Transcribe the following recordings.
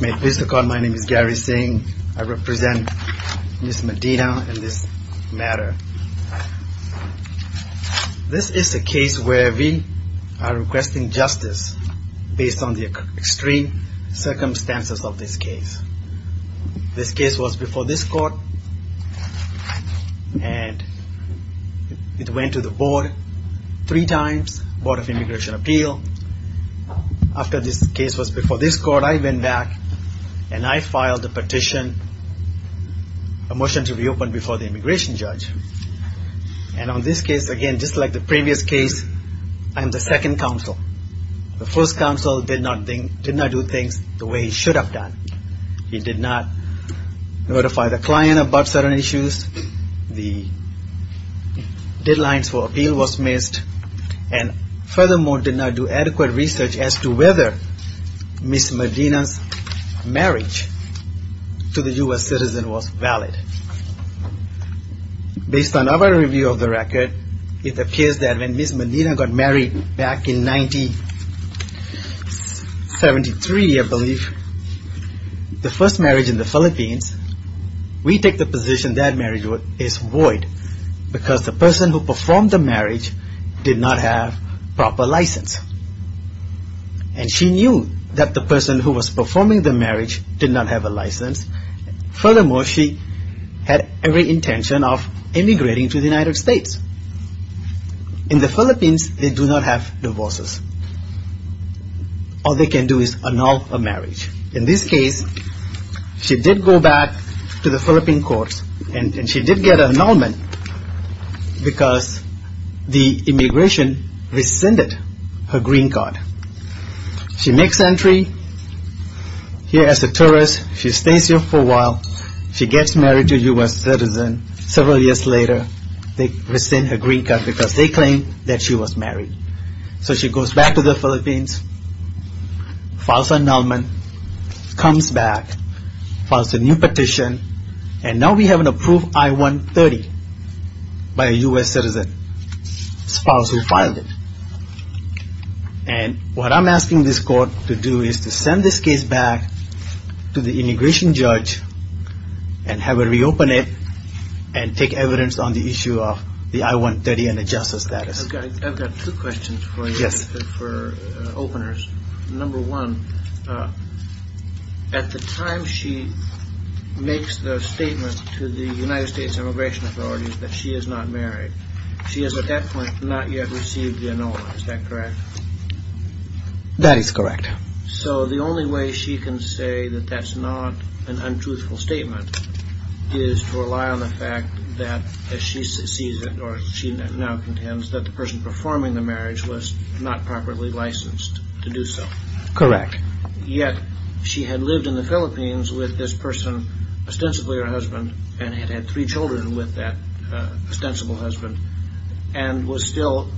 My name is Gary Singh. I represent Ms. Medina in this matter. This is a case where we are requesting justice based on the extreme circumstances of this case. This case was before this court and it went to the board three times, Board of I went back and I filed a petition, a motion to reopen before the immigration judge. And on this case, again, just like the previous case, I'm the second counsel. The first counsel did not do things the way he should have done. He did not notify the client about certain issues, the deadlines for appeal was missed, and furthermore did not do adequate research as to whether Ms. Medina's marriage to the U.S. citizen was valid. Based on our review of the record, it appears that when Ms. Medina got married back in 1973, I believe, the first marriage in the Philippines, we take the position that marriage is void because the person who performed the marriage did not have proper license. And she knew that the person who was performing the marriage did not have a license. Furthermore, she had every intention of immigrating to the United States. In the Philippines, they do not have divorces. All they can do is annul a marriage. In this case, she did go back to the Philippine courts and she did get an annulment because the immigration rescinded her green card. She makes entry here as a tourist. She stays here for a while. She gets married to a U.S. citizen. Several years later, they rescind her green card because they claim that she was married. So she goes back to the Philippines, files an annulment, comes back, files a new one, and now we have an approved I-130 by a U.S. citizen, spouse who filed it. And what I'm asking this court to do is to send this case back to the immigration judge and have her reopen it and take evidence on the issue of the I-130 and adjust her status. I've got two questions for you, for openers. Number one, at the time she makes the statement to the United States immigration authorities that she is not married, she has at that point not yet received the annulment. Is that correct? That is correct. So the only way she can say that that's not an untruthful statement is to rely on the fact that she sees it or she now contends that the person performing the marriage was not properly licensed to do so. Correct. Yet she had lived in the Philippines with this person, ostensibly her husband, and had had three children with that ostensible husband, and was still,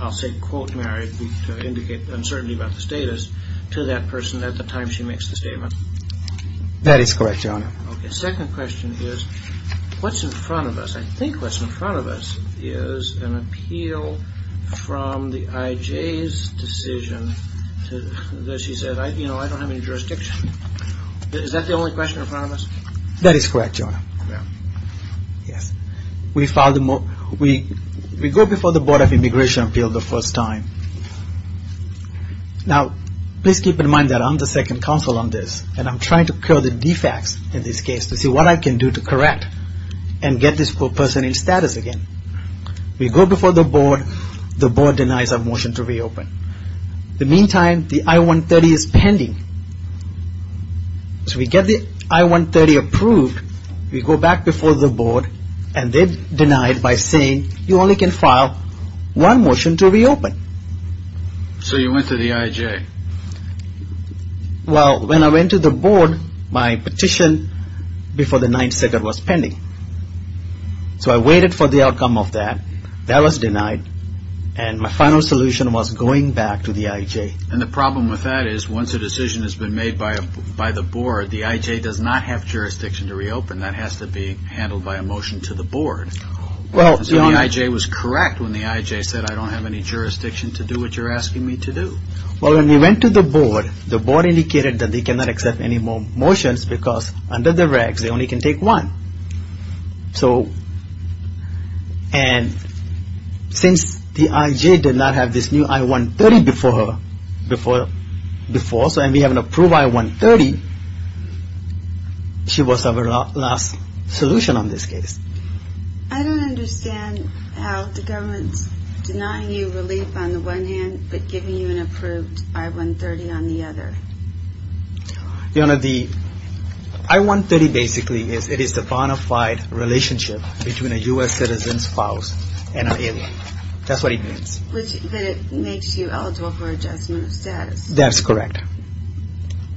I'll say, quote, married, to indicate uncertainty about the status, to that person at the time she makes the statement. That is correct, Your Honor. The second question is, what's in front of us? I think what's in front of us is an appeal from the IJ's decision that she said, you know, I don't have any jurisdiction. Is that the only question in front of us? That is correct, Your Honor. Yes. We filed, we go before the Board of Immigration Appeal the first time. Now, please keep in mind that I'm the second counsel on this, and I'm trying to cure the defects in this case to see what I can do to correct and get this person in status again. We go before the board. The board denies our motion to reopen. In the meantime, the I-130 is pending. So we get the I-130 approved. We go back before the board, and they deny it by saying you only can file one motion to reopen. So you went to the IJ. Well, when I went to the board, my petition before the 9th Circuit was pending. So I waited for the outcome of that. That was denied, and my final solution was going back to the IJ. And the problem with that is once a decision has been made by the board, the IJ does not have jurisdiction to reopen. That has to be handled by a motion to the board. So the IJ was correct when the IJ said, I don't have any jurisdiction to do what you're asking me to do. Well, when we went to the board, the board indicated that they cannot accept any more motions because under the regs, they only can take one. And since the IJ did not have this new I-130 before, and we have an approved I-130, she was our last solution on this case. I don't understand how the government's denying you relief on the one hand, but giving you an approved I-130 on the other. Your Honor, the I-130 basically is the bona fide relationship between a U.S. citizen's spouse and an alien. That's what it means. Which makes you eligible for adjustment of status. That's correct.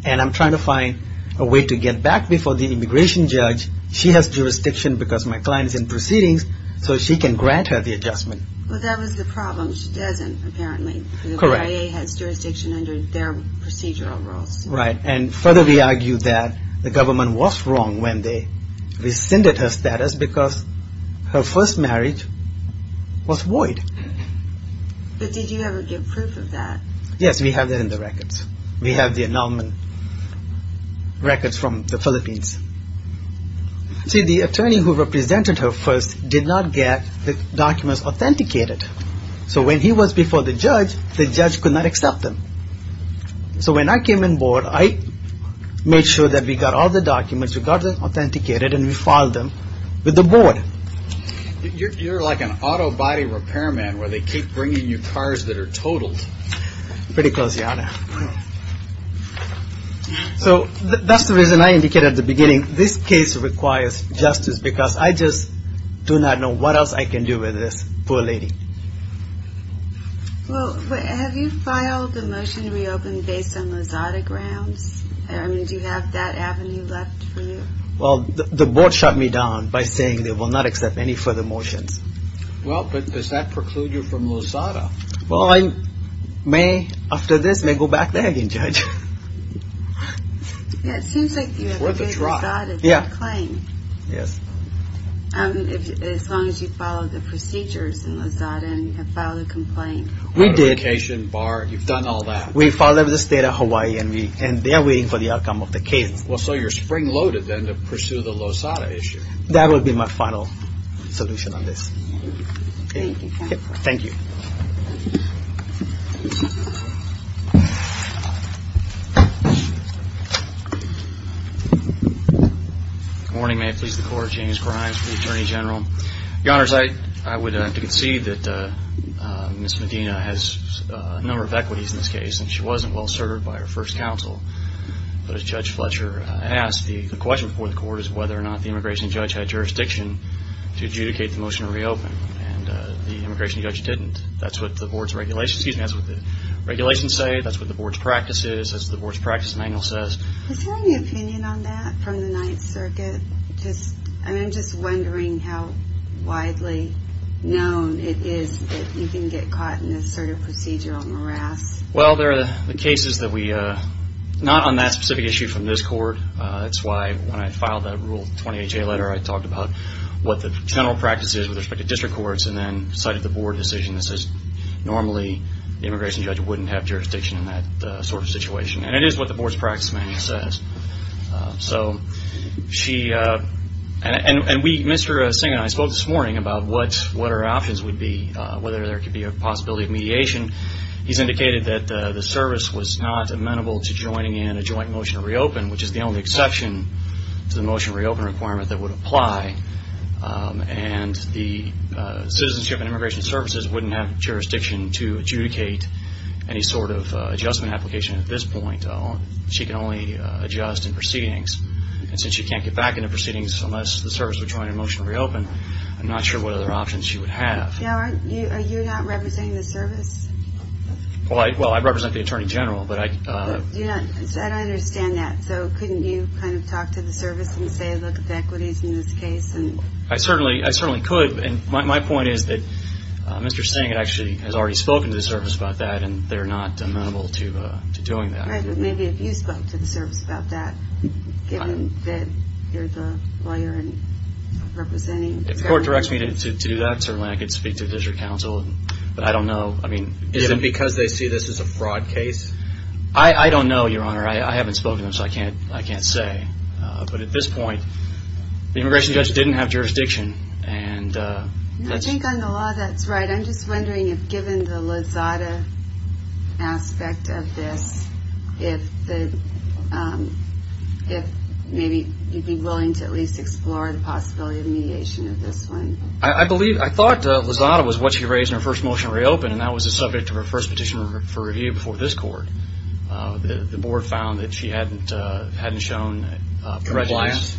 And I'm trying to find a way to get back before the immigration judge. She has jurisdiction because my client is in proceedings, so she can grant her the adjustment. Well, that was the problem. She doesn't, apparently. Correct. The IA has jurisdiction under their procedural rules. Right. And further, we argue that the government was wrong when they rescinded her status because her first marriage was void. But did you ever get proof of that? Yes, we have that in the records. We have the annulment records from the Philippines. See, the attorney who represented her first did not get the documents authenticated. So when he was before the judge, the judge could not accept them. So when I came on board, I made sure that got all the documents, we got them authenticated, and we filed them with the board. You're like an auto body repairman where they keep bringing you cars that are totaled. Pretty close, your honor. So that's the reason I indicated at the beginning, this case requires justice because I just do not know what else I can do with this poor lady. Well, have you filed the motion to reopen based on Lozada grounds? Do you have that avenue left for you? Well, the board shut me down by saying they will not accept any further motions. Well, but does that preclude you from Lozada? Well, I may, after this, may go back there again, Judge. Yeah, it seems like you have a big Lozada claim. Yes. And as long as you follow the procedures in Lozada and file a complaint. Authorization, bar, you've done all that. We followed the state of Hawaii and they are waiting for the outcome of the case. Well, so you're spring loaded then to pursue the Lozada issue. That would be my final solution on this. Thank you. Good morning. May it please the court. James Grimes for the Attorney General. Your Honor, I would have to concede that Ms. Medina has a number of equities in this case and she wasn't well served by her first counsel. But as Judge Fletcher asked, the question before the court is whether or not the immigration judge had jurisdiction to adjudicate the motion to reopen. And the immigration judge didn't. That's what the board's regulations, excuse me, that's what the regulations say. That's what the board's practice is. That's what the board's practice manual says. Is there any opinion on that from the Ninth Circuit? I mean, I'm just wondering how widely known it is that you can get caught in this sort of procedural morass. Well, there are cases that we, not on that specific issue from this court. That's why when I filed that Rule 20HA letter, I talked about what the general practice is with respect to district courts and then cited the board decision that says normally the immigration judge wouldn't have jurisdiction in that sort of situation. And it is what the board's practice manual says. So she, and we, Mr. Singh and I spoke this morning about what our options would be, whether there could be a possibility of mediation. He's indicated that the service was not amenable to joining in a joint motion to reopen, which is the only exception to the motion to reopen requirement that would apply. And the Citizenship and Immigration Services wouldn't have jurisdiction to adjudicate any sort of adjustment application at this point. She can only adjust in proceedings. And since she can't get back into proceedings unless the service would join in a motion to reopen, I'm not sure what other options she would have. Now, are you not representing the service? Well, I represent the Attorney General, but I... I don't understand that. So couldn't you kind of talk to the service and say, look, if the equity's in this case and... I certainly, I certainly could. And my point is that Mr. Singh actually has already spoken to the service about that and they're not amenable to doing that. Maybe if you spoke to the service about that, given that you're the lawyer and representing... If the court directs me to do that, certainly I could speak to the district council, but I don't know. I mean... Is it because they see this as a fraud case? I don't know, Your Honor. I haven't spoken to them, so I can't say. But at this point, the immigration judge didn't have jurisdiction and... I think on the law that's right. I'm just wondering if given the Lozada aspect of this, if maybe you'd be willing to at least explore the possibility of mediation of this one. I believe... I thought Lozada was what she raised in her first motion to reopen and that was the subject of her first petition for review before this court. The board found that she hadn't shown... Compliance?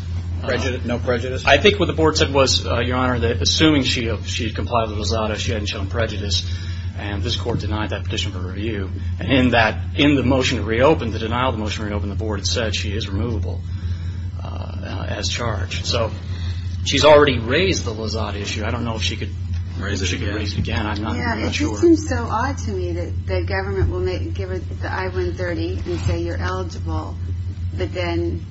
No prejudice? I think what the board said was, Your Honor, that assuming she had complied with Lozada, she hadn't shown prejudice and this court denied that petition for review. In the motion to reopen, the denial of the motion to reopen, the board had said she is removable as charged. So, she's already raised the Lozada issue. I don't know if she could raise it again. I'm not sure. It seems so odd to me that the government will give her the I-130 and say you're eligible, but then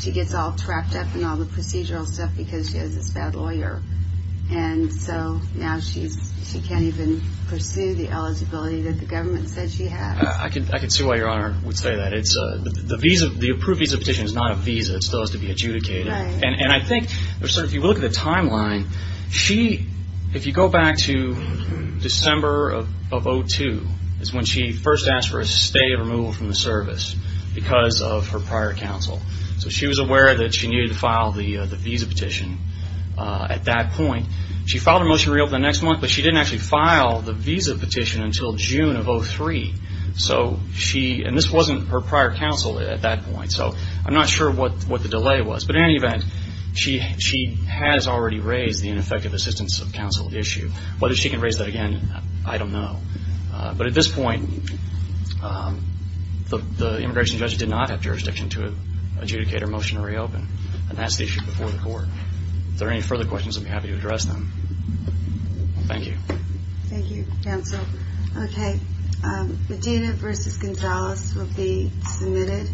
she gets all trapped up in all the procedural stuff because she has this bad lawyer and so now she can't even pursue the eligibility that the government said she had. I can see why Your Honor would say that. The approved visa petition is not a visa. It still has to be adjudicated. I think if you look at the timeline, if you go back to December of 2002 is when she first asked for a stay of removal from the service because of her prior counsel. She was aware that she needed to file the visa petition at that point. She filed her motion to reopen the next month, but she didn't actually file the visa petition until June of 2003. This wasn't her prior counsel at that point. I'm not sure what the delay was. But in any event, she has already raised the ineffective assistance of counsel issue. Whether she can raise that again, I don't know. But at this point, the immigration judge did not have jurisdiction to adjudicate her motion to reopen, and that's the issue before the court. If there are any further questions, I'd be happy to address them. Thank you. Thank you, counsel. Medina v. Gonzalez will be submitted.